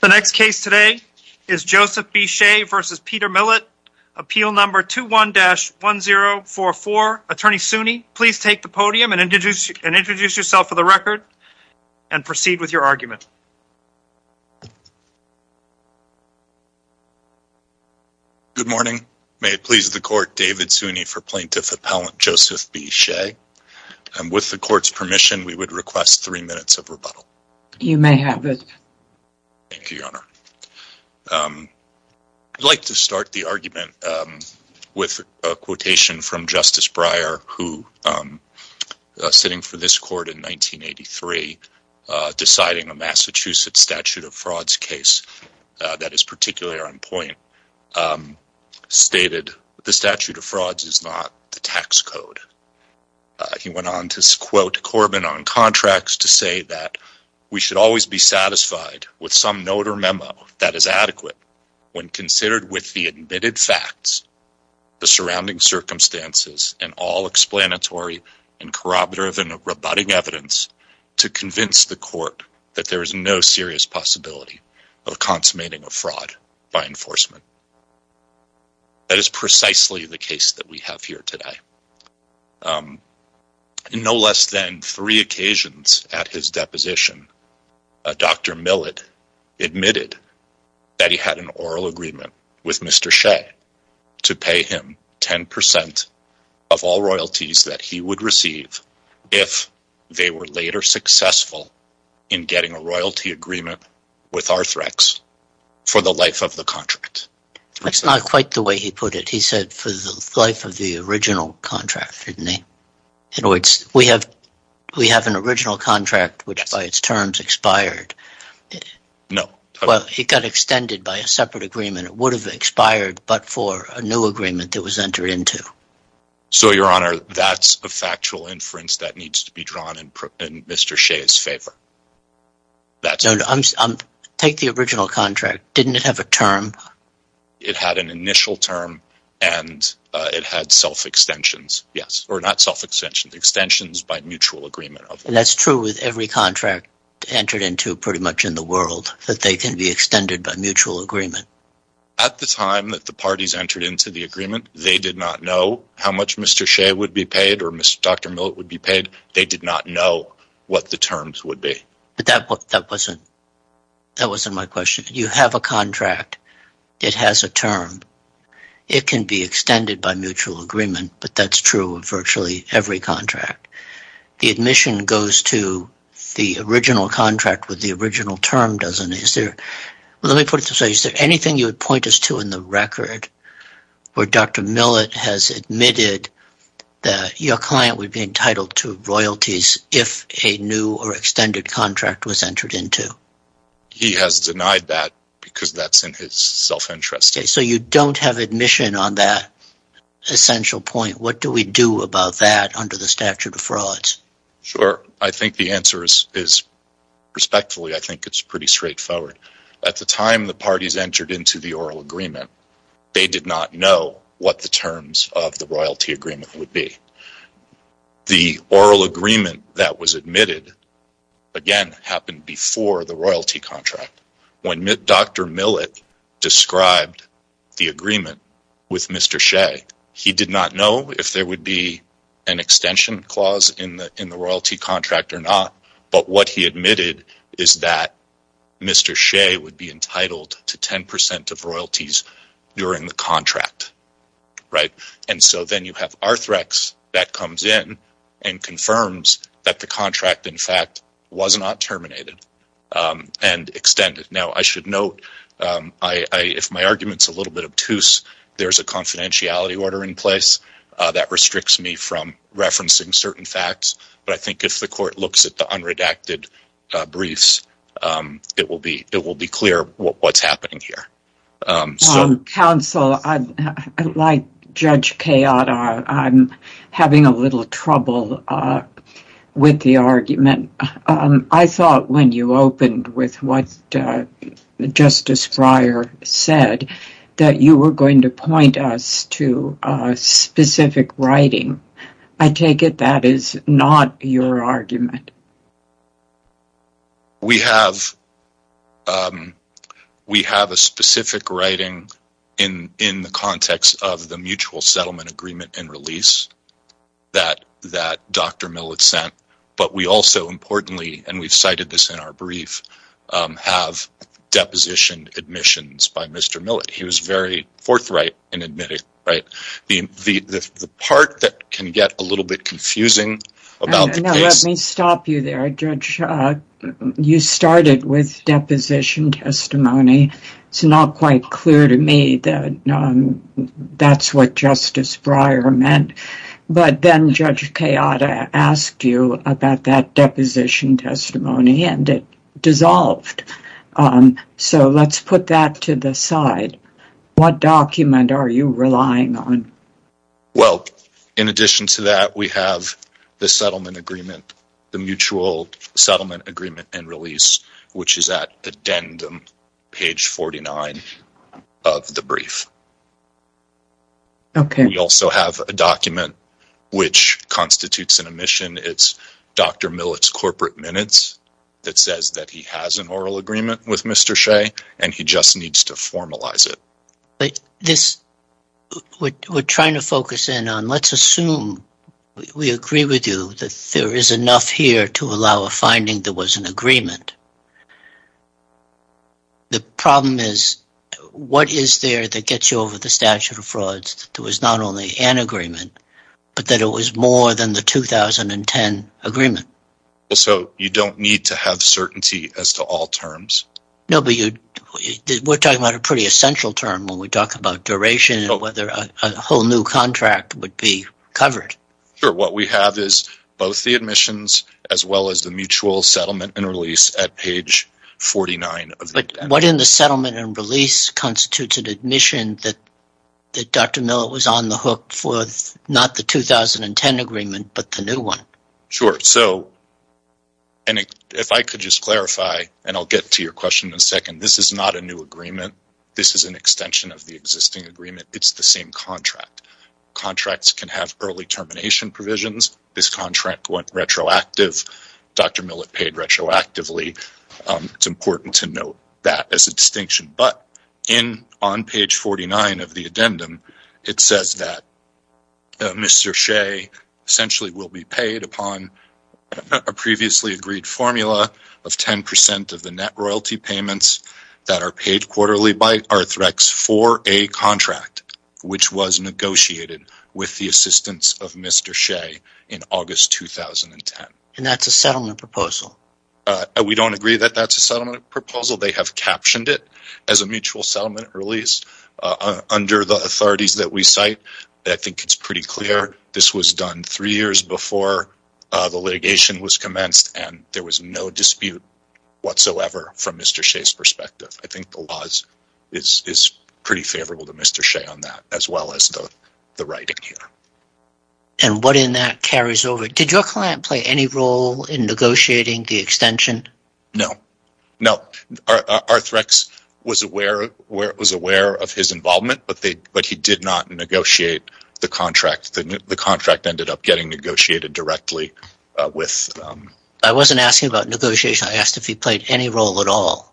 The next case today is Joseph B. Shea v. Peter Millett, Appeal No. 21-1044. Attorney Suny, please take the podium and introduce yourself for the record and proceed with your argument. Good morning. May it please the Court, David Suny for Plaintiff Appellant Joseph B. Shea. With the Court's permission, we would request three minutes of rebuttal. You may have it. Thank you, Your Honor. I'd like to start the argument with a quotation from Justice Breyer who, sitting for this Court in 1983, deciding a Massachusetts statute of frauds case that is particularly on point, stated the statute of frauds is not the tax code. He went on to quote Corbin on contracts to say that we should always be satisfied with some note or memo that is adequate when considered with the admitted facts, the surrounding circumstances and all explanatory and corroborative and rebutting evidence to convince the Court that there is no serious possibility of consummating a fraud by enforcement. That is precisely the case that we have here today. No less than three occasions at his deposition, Dr. Millett admitted that he had an oral agreement with Mr. Shea to pay him 10% of all royalties that he would receive if they were later successful in getting a royalty agreement with Arthrex for the life of the contract. That's not quite the way he put it. He said for the life of the original contract, didn't he? In other words, we have an original contract which by its terms expired. No. Well, it got extended by a separate agreement. It would have expired but for a new agreement that was entered into. So, Your Honor, that's a factual inference that needs to be drawn in Mr. Shea's favor. Take the original contract, didn't it have a term? It had an initial term and it had self-extensions, yes, or not self-extensions, extensions by mutual agreement. And that's true with every contract entered into pretty much in the world, that they can be extended by mutual agreement. At the time that the parties entered into the agreement, they did not know how much Mr. Shea would be paid or Dr. Millett would be paid. They did not know what the terms would be. But that wasn't my question. You have a contract. It has a term. It can be extended by mutual agreement but that's true of virtually every contract. The admission goes to the original contract with the original term, doesn't it? Let me put it this way. Is there anything you would point us to in the record where Dr. Millett has admitted that your client would be entitled to royalties if a new or extended contract was entered into? He has denied that because that's in his self-interest. So you don't have admission on that essential point. What do we do about that under the statute of frauds? Sure. I think the answer is respectfully. I think it's pretty straightforward. At the time the parties entered into the oral agreement, they did not know what the terms of the royalty agreement would be. The oral agreement that was admitted, again, happened before the royalty contract. When Dr. Millett described the agreement with Mr. Shea, he did not know if there would be an extension clause in the royalty contract or not, but what he admitted is that Mr. Shea would be entitled to 10% of royalties during the contract. And so then you have Arthrex that comes in and confirms that the contract, in fact, was not terminated and extended. Now I should note, if my argument's a little bit obtuse, there's a confidentiality order in place that restricts me from referencing certain facts, but I think if the court looks at the unredacted briefs, it will be clear what's happening here. Counsel, like Judge Kayotta, I'm having a little trouble with the argument. I thought when you opened with what Justice Breyer said, that you were going to point us to specific writing. I take it that is not your argument. We have a specific writing in the context of the mutual settlement agreement and release that Dr. Millett sent, but we also, importantly, and we've cited this in our brief, have depositioned admissions by Mr. Millett. He was very forthright in admitting it. The part that can get a little bit confusing about the case... Let me stop you there, Judge. You started with deposition testimony. It's not quite clear to me that that's what Justice Breyer meant, but then Judge Kayotta asked you about that deposition testimony and it dissolved. Let's put that to the side. What document are you relying on? In addition to that, we have the settlement agreement, the mutual settlement agreement and release, which is at addendum, page 49 of the brief. We also have a document which constitutes an admission. It's Dr. Millett's corporate minutes that says that he has an oral agreement with Mr. Shea and he just needs to formalize it. We're trying to focus in on, let's assume we agree with you that there is enough here to allow a finding that was an agreement. The problem is, what is there that gets you over the statute of frauds that there was not only an agreement, but that it was more than the 2010 agreement? You don't need to have certainty as to all terms. We're talking about a pretty essential term when we talk about duration and whether a whole new contract would be covered. What we have is both the admissions as well as the mutual settlement and release at page 49. What in the settlement and release constitutes an admission that Dr. Millett was on the hook for not the 2010 agreement, but the new one? If I could just clarify, and I'll get to your question in a second, this is not a new agreement. This is an extension of the existing agreement. It's the same contract. Contracts can have early termination provisions. This contract went retroactive. Dr. Millett paid retroactively. It's important to note that as a distinction. On page 49 of the addendum, it says that Mr. Shea essentially will be paid upon a previously agreed formula of 10% of the net royalty payments that are paid quarterly by Arthrex for a contract which was negotiated with the assistance of Mr. Shea in August 2010. That's a settlement proposal? We don't agree that that's a settlement proposal. They have captioned it as a mutual settlement release under the authorities that we cite. I think it's pretty clear this was done three years before the litigation was commenced and there was no dispute whatsoever from Mr. Shea's perspective. I think the laws is pretty favorable to Mr. Shea on that as well as the writing here. And what in that carries over? Did your client play any role in negotiating the extension? No. No. Arthrex was aware of his involvement, but he did not negotiate the contract. The contract ended up getting negotiated directly with... I wasn't asking about negotiation. I asked if he played any role at all.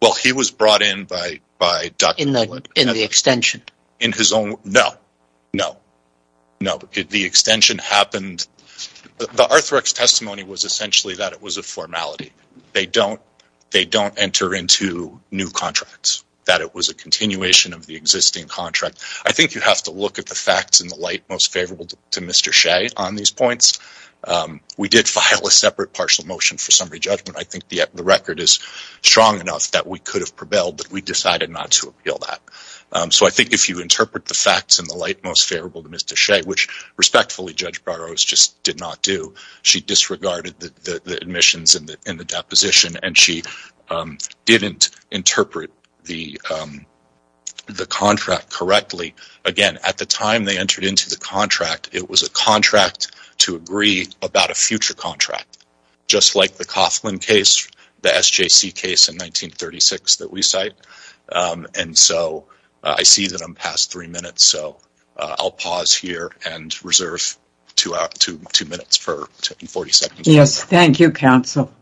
Well, he was brought in by Dr. Millett. In the extension? In his own... No. No. No. The extension happened... The Arthrex testimony was essentially that it was a formality. They don't enter into new contracts, that it was a continuation of the existing contract. I think you have to look at the facts in the light most favorable to Mr. Shea on these points. We did file a separate partial motion for summary judgment. I think the record is strong enough that we could have prevailed, but we decided not to appeal that. I think if you interpret the facts in the light most favorable to Mr. Shea, which respectfully Judge Barrows just did not do, she disregarded the admissions and the deposition. She didn't interpret the contract correctly. Again, at the time they entered into the contract, it was a contract to agree about a future contract, just like the Coughlin case, the SJC case in 1936 that we cite. I see that I'm past three minutes, so I'll pause here and reserve two minutes for 40 seconds. Yes. Thank you, counsel.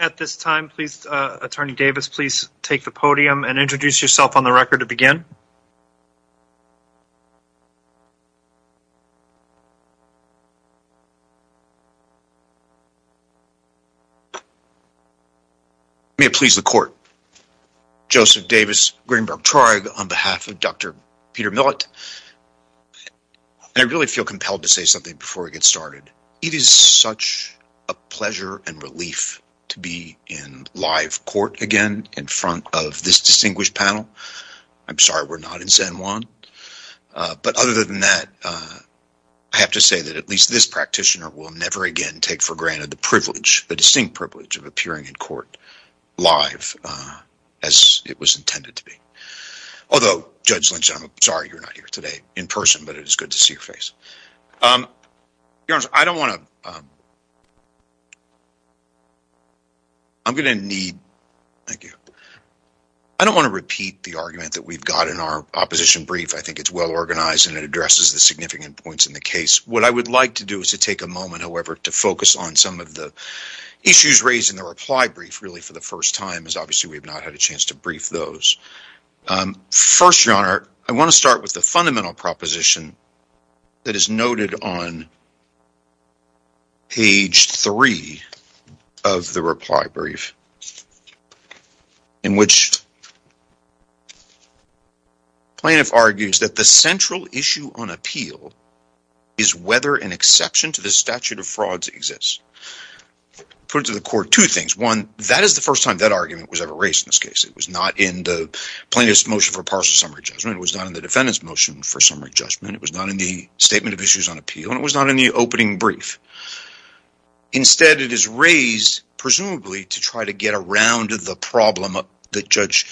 At this time, please, Attorney Davis, please take the podium and introduce yourself on May it please the court. Joseph Davis, Greenberg Tribe on behalf of Dr. Peter Millett, I really feel compelled to say something before we get started. It is such a pleasure and relief to be in live court again in front of this distinguished panel. I'm sorry we're not in San Juan, but other than that, I have to say that at least this practitioner will never again take for granted the privilege, the distinct privilege of appearing in court live as it was intended to be. Although Judge Lynch, I'm sorry you're not here today in person, but it is good to see your face. Your Honor, I don't want to, I'm going to need, thank you. I don't want to repeat the argument that we've got in our opposition brief. I think it's well organized and it addresses the significant points in the case. What I would like to do is to take a moment, however, to focus on some of the issues raised in the reply brief really for the first time is obviously we have not had a chance to brief those. First, Your Honor, I want to start with the fundamental proposition that is noted on page three of the reply brief in which plaintiff argues that the central issue on appeal is whether an exception to the statute of frauds exists. Put it to the court, two things. One, that is the first time that argument was ever raised in this case. It was not in the plaintiff's motion for partial summary judgment. It was not in the defendant's motion for summary judgment. It was not in the statement of issues on appeal and it was not in the opening brief. Instead, it is raised presumably to try to get around the problem that Judge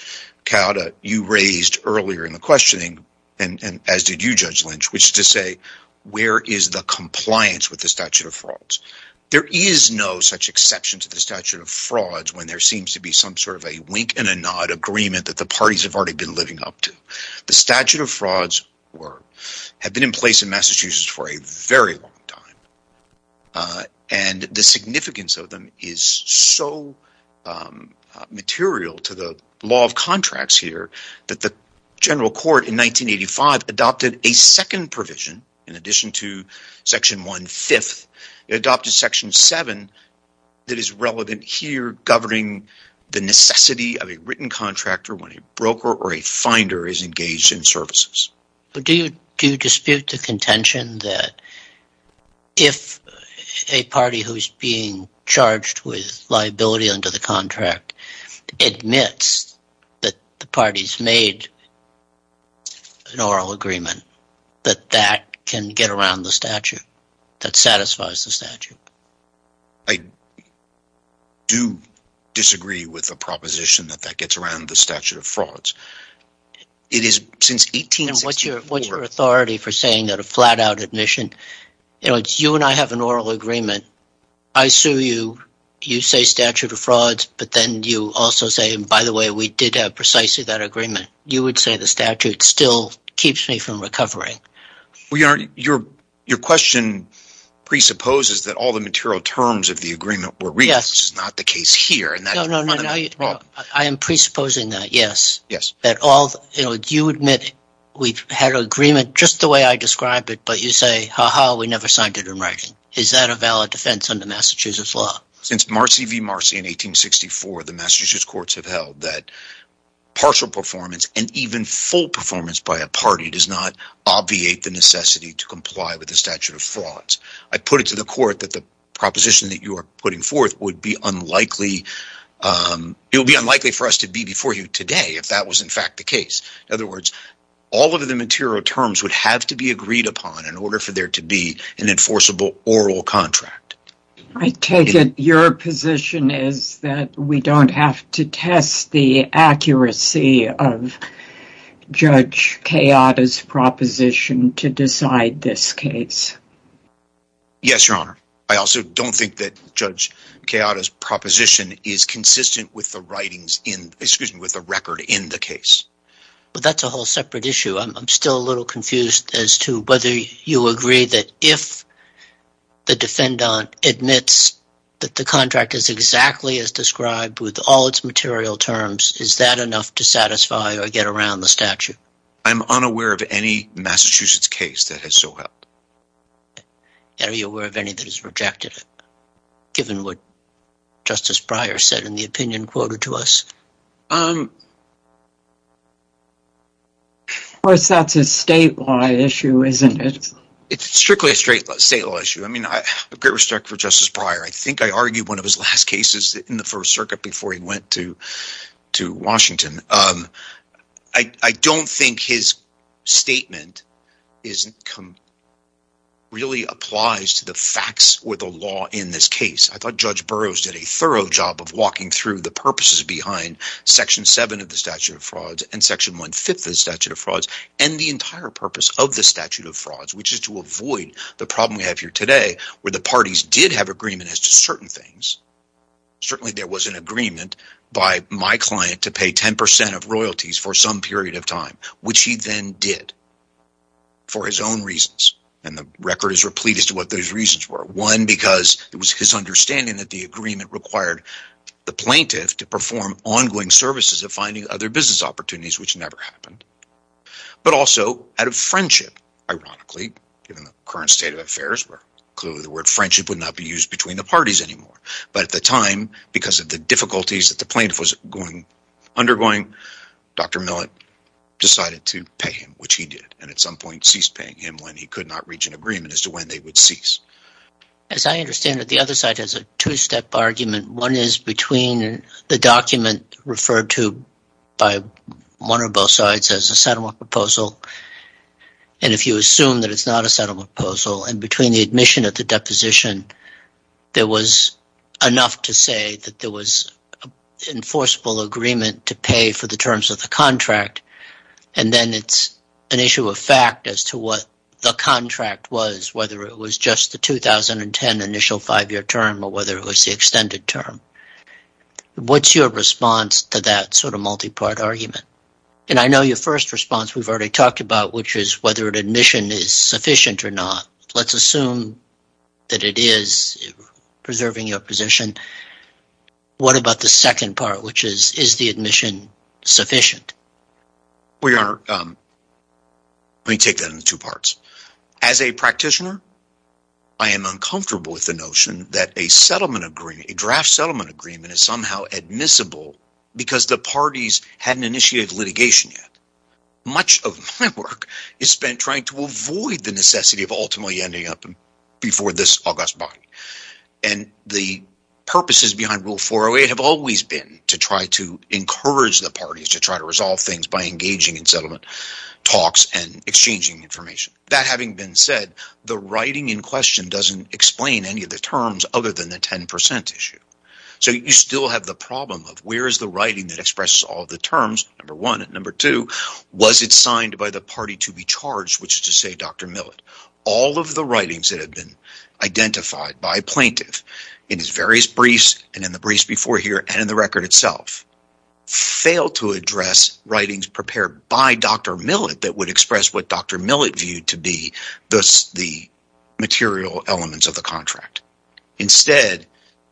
Cauda, you raised earlier in the questioning and as did you, Judge Lynch, which is to say where is the compliance with the statute of frauds. There is no such exception to the statute of frauds when there seems to be some sort of a wink and a nod agreement that the parties have already been living up to. The statute of frauds have been in place in Massachusetts for a very long time and the significance of them is so material to the law of contracts here that the general court in 1985 adopted a second provision in addition to section one-fifth, adopted section seven that is relevant here governing the necessity of a written contractor when a broker or a finder is engaged in services. Do you dispute the contention that if a party who is being charged with liability under the contract admits that the parties made an oral agreement that that can get around the statute, that satisfies the statute? I do disagree with the proposition that that gets around the statute of frauds. It is since 1864. And what is your authority for saying that a flat-out admission, you know, you and I have an oral agreement, I sue you, you say statute of frauds, but then you also say, by the way, we did have precisely that agreement. You would say the statute still keeps me from recovering. Well, your question presupposes that all the material terms of the agreement were reached, which is not the case here. I am presupposing that, yes, that all, you know, you admit we had an agreement just the way I described it, but you say, ha-ha, we never signed it in writing. Is that a valid defense under Massachusetts law? Since Marcy v. Marcy in 1864, the Massachusetts courts have held that partial performance and even full performance by a party does not obviate the necessity to comply with the statute of frauds. I put it to the court that the proposition that you are putting forth would be unlikely – it would be unlikely for us to be before you today if that was in fact the case. In other words, all of the material terms would have to be agreed upon in order for there to be an enforceable oral contract. I take it your position is that we don't have to test the accuracy of Judge Keada's proposition to decide this case? Yes, Your Honor. I also don't think that Judge Keada's proposition is consistent with the writings in, excuse me, with the record in the case. Well, that's a whole separate issue. I'm still a little confused as to whether you agree that if the defendant admits that the contract is exactly as described with all its material terms, is that enough to satisfy or get around the statute? I'm unaware of any Massachusetts case that has so helped. Are you aware of any that has rejected it, given what Justice Breyer said in the opinion quoted to us? Of course, that's a statewide issue, isn't it? It's strictly a statewide issue. I mean, I have great respect for Justice Breyer. I think I argued one of his last cases in the First Circuit before he went to Washington. I don't think his statement really applies to the facts or the law in this case. I thought Judge Burroughs did a thorough job of walking through the purposes behind Section 7 of the Statute of Frauds and Section 1 5th of the Statute of Frauds and the entire purpose of the Statute of Frauds, which is to avoid the problem we have here today where the parties did have agreement as to certain things. Certainly there was an agreement by my client to pay 10 percent of royalties for some period of time, which he then did for his own reasons, and the record is replete as to what those reasons were. One, because it was his understanding that the agreement required the plaintiff to perform ongoing services of finding other business opportunities, which never happened, but also out of friendship, ironically, given the current state of affairs where clearly the word friendship would not be used between the parties anymore. But at the time, because of the difficulties that the plaintiff was undergoing, Dr. Millett decided to pay him, which he did, and at some point ceased paying him when he could not reach an agreement as to when they would cease. As I understand it, the other side has a two-step argument. One is between the document referred to by one or both sides as a settlement proposal, and if you assume that it's not a settlement proposal, and between the admission at the deposition, there was enough to say that there was an enforceable agreement to pay for the it was just the 2010 initial five-year term or whether it was the extended term. What's your response to that sort of multi-part argument? And I know your first response we've already talked about, which is whether an admission is sufficient or not. Let's assume that it is, preserving your position. What about the second part, which is, is the admission sufficient? Well, Your Honor, let me take that into two parts. As a practitioner, I am uncomfortable with the notion that a draft settlement agreement is somehow admissible because the parties hadn't initiated litigation yet. Much of my work is spent trying to avoid the necessity of ultimately ending up before this August body. And the purposes behind Rule 408 have always been to try to encourage the parties to try all things by engaging in settlement talks and exchanging information. That having been said, the writing in question doesn't explain any of the terms other than the 10% issue. So you still have the problem of where is the writing that expresses all of the terms, number one. And number two, was it signed by the party to be charged, which is to say Dr. Millett. All of the writings that have been identified by plaintiff in his various briefs and in the briefs before here and in the record itself failed to address writings prepared by Dr. Millett that would express what Dr. Millett viewed to be thus the material elements of the contract. Instead,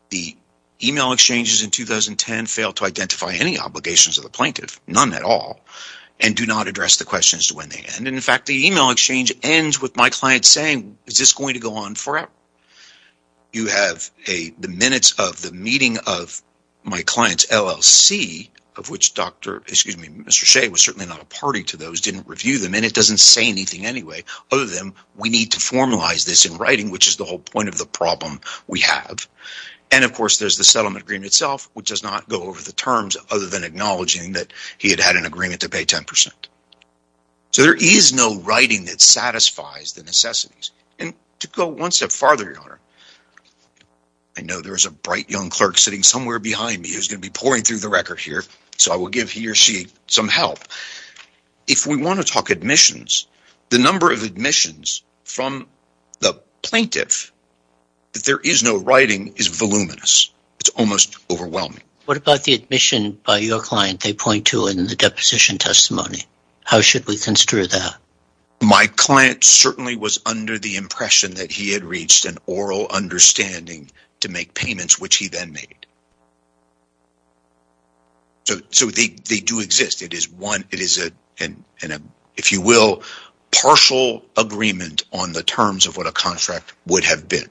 the email exchanges in 2010 failed to identify any obligations of the plaintiff, none at all, and do not address the questions to when they end. And in fact, the email exchange ends with my client saying, is this going to go on forever? You have the minutes of the meeting of my client's LLC, of which Mr. Shea was certainly not a party to those, didn't review them, and it doesn't say anything anyway other than we need to formalize this in writing, which is the whole point of the problem we have. And of course, there's the settlement agreement itself, which does not go over the terms other than acknowledging that he had had an agreement to pay 10%. So there is no writing that satisfies the necessities. And to go one step farther, Your Honor, I know there is a bright young clerk sitting somewhere behind me who's going to be pouring through the record here, so I will give he or she some help. If we want to talk admissions, the number of admissions from the plaintiff that there is no writing is voluminous. It's almost overwhelming. What about the admission by your client they point to in the deposition testimony? How should we consider that? My client certainly was under the impression that he had reached an oral understanding to make payments, which he then made. So they do exist. It is one, it is a, if you will, partial agreement on the terms of what a contract would have been.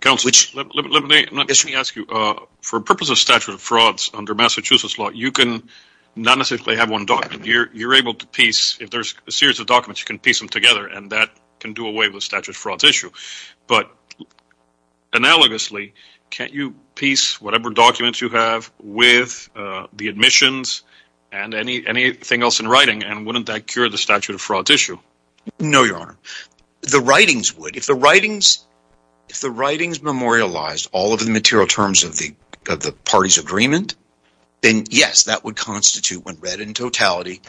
Counsel, let me ask you, for purpose of statute of frauds under Massachusetts law, you can not necessarily have one document. You're able to piece, if there's a series of documents, you can piece them together and that can do away with the statute of frauds issue, but analogously, can't you piece whatever documents you have with the admissions and anything else in writing and wouldn't that cure the statute of frauds issue? No, Your Honor. The writings would. If the writings memorialized all of the material terms of the party's agreement, then yes, that would constitute, when read in totality,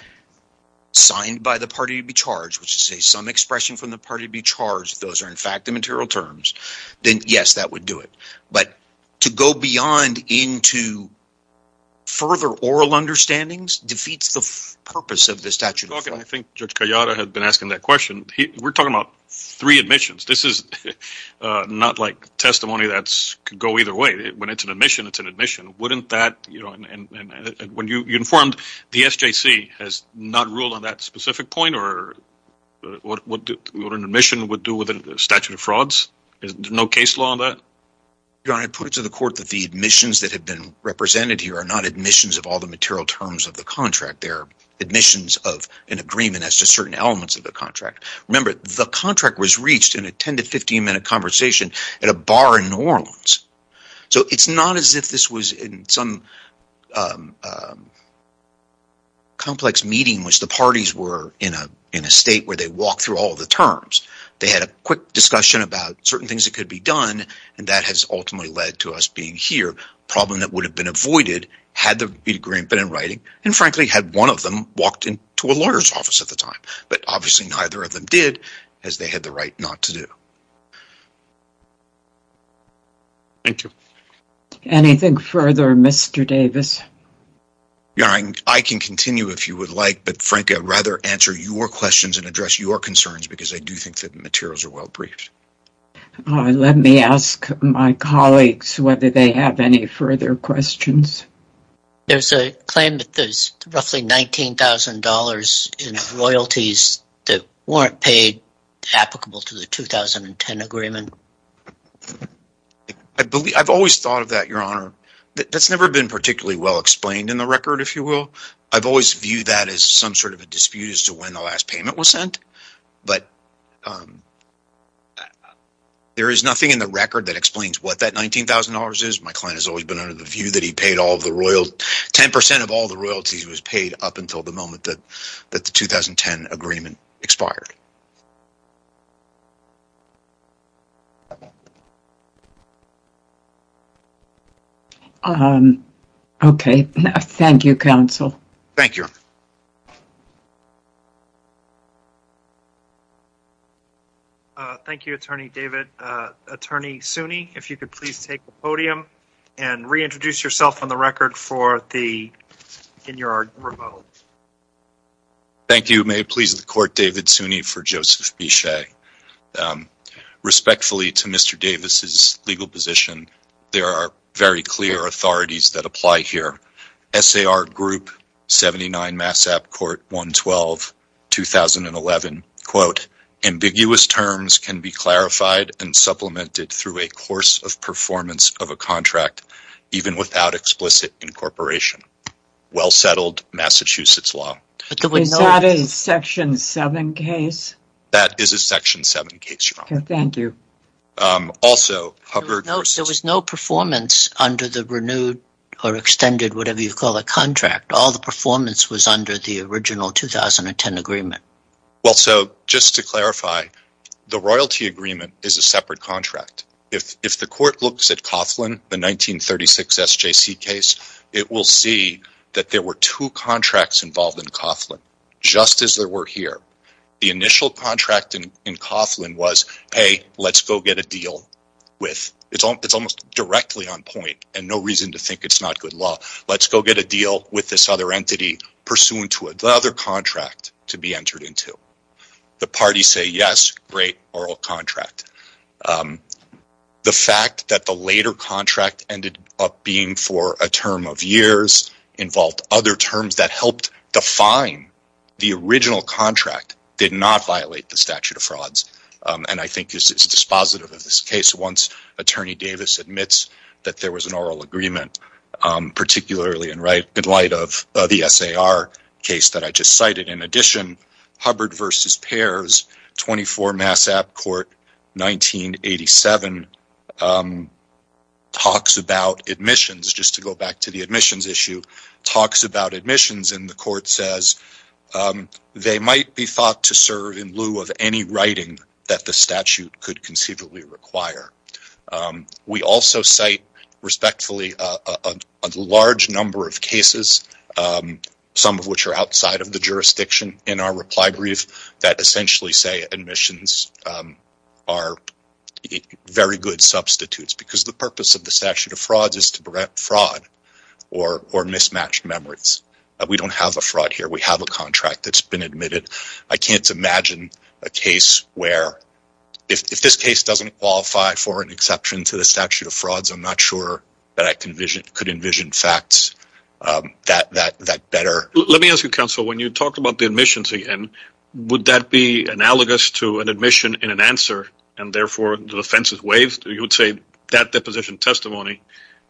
signed by the party to be charged, which is to say some expression from the party to be charged. Those are in fact the material terms, then yes, that would do it. But to go beyond into further oral understandings defeats the purpose of the statute of frauds. I think Judge Callada had been asking that question. We're talking about three admissions. This is not like testimony that could go either way. When it's an admission, it's an admission. Wouldn't that, you know, and when you informed the SJC has not ruled on that specific point or what an admission would do with a statute of frauds? There's no case law on that? Your Honor, I put it to the court that the admissions that have been represented here are not admissions of all the material terms of the contract. They're admissions of an agreement as to certain elements of the contract. Remember, the contract was reached in a 10 to 15 minute conversation at a bar in New Orleans. So it's not as if this was in some complex meeting which the parties were in a state where they walked through all the terms. They had a quick discussion about certain things that could be done and that has ultimately led to us being here. Problem that would have been avoided had the agreement been in writing and frankly had one of them walked into a lawyer's office at the time. But obviously neither of them did as they had the right not to do. Thank you. Anything further, Mr. Davis? Your Honor, I can continue if you would like, but frankly I'd rather answer your questions and address your concerns because I do think that the materials are well briefed. Let me ask my colleagues whether they have any further questions. There's a claim that there's roughly $19,000 in royalties that weren't paid applicable to the 2010 agreement. I've always thought of that, Your Honor. That's never been particularly well explained in the record, if you will. I've always viewed that as some sort of a dispute as to when the last payment was sent. But there is nothing in the record that explains what that $19,000 is. My client has always been under the view that 10% of all the royalties was paid up until the moment that the 2010 agreement expired. Okay. Thank you, counsel. Thank you, Your Honor. Thank you, Attorney David. Attorney Suny, if you could please take the podium and reintroduce yourself on the record for the in your remote. Thank you. May it please the Court, David Suny for Joseph Bichet. Respectfully to Mr. Davis's legal position, there are very clear authorities that apply here. S.A.R. Group, 79 Massap Court 112, 2011, quote, ambiguous terms can be clarified and supplemented through a course of performance of a contract even without explicit incorporation. Well settled, Massachusetts law. Is that a Section 7 case? That is a Section 7 case, Your Honor. Thank you. There was no performance under the renewed or extended, whatever you call it, contract. All the performance was under the original 2010 agreement. Well, so just to clarify, the royalty agreement is a separate contract. If the Court looks at Coughlin, the 1936 SJC case, it will see that there were two contracts involved in Coughlin, just as there were here. The initial contract in Coughlin was, hey, let's go get a deal with, it's almost directly on point and no reason to think it's not good law, let's go get a deal with this other entity pursuant to another contract to be entered into. The parties say, yes, great oral contract. The fact that the later contract ended up being for a term of years involved other terms that helped define the original contract did not violate the statute of frauds. And I think this is dispositive of this case once Attorney Davis admits that there was an oral agreement, particularly in light of the SAR case that I just cited. In addition, Hubbard v. Pears, 24 Mass. App. Court, 1987, talks about admissions, just to go back to the admissions issue, talks about admissions and the Court says they might be thought to serve in lieu of any writing that the statute could conceivably require. We also cite, respectfully, a large number of cases, some of which are outside of the jurisdiction in our reply brief, that essentially say admissions are very good substitutes because the purpose of the statute of frauds is to prevent fraud or mismatch memories. We don't have a fraud here, we have a contract that's been admitted. I can't imagine a case where, if this case doesn't qualify for an exception to the statute of frauds, I'm not sure that I could envision facts that better. Let me ask you, counsel, when you talk about the admissions again, would that be analogous to an admission in an answer and therefore the defense is waived? You would say that deposition testimony,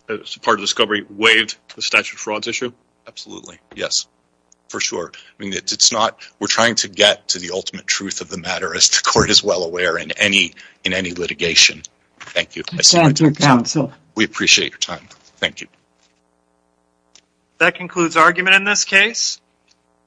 as part of the discovery, waived the statute of frauds issue? Absolutely, yes. For sure. I mean, it's not, we're trying to get to the ultimate truth of the matter as the Court is well aware in any litigation. Thank you. We appreciate your time. Thank you. That concludes argument in this case.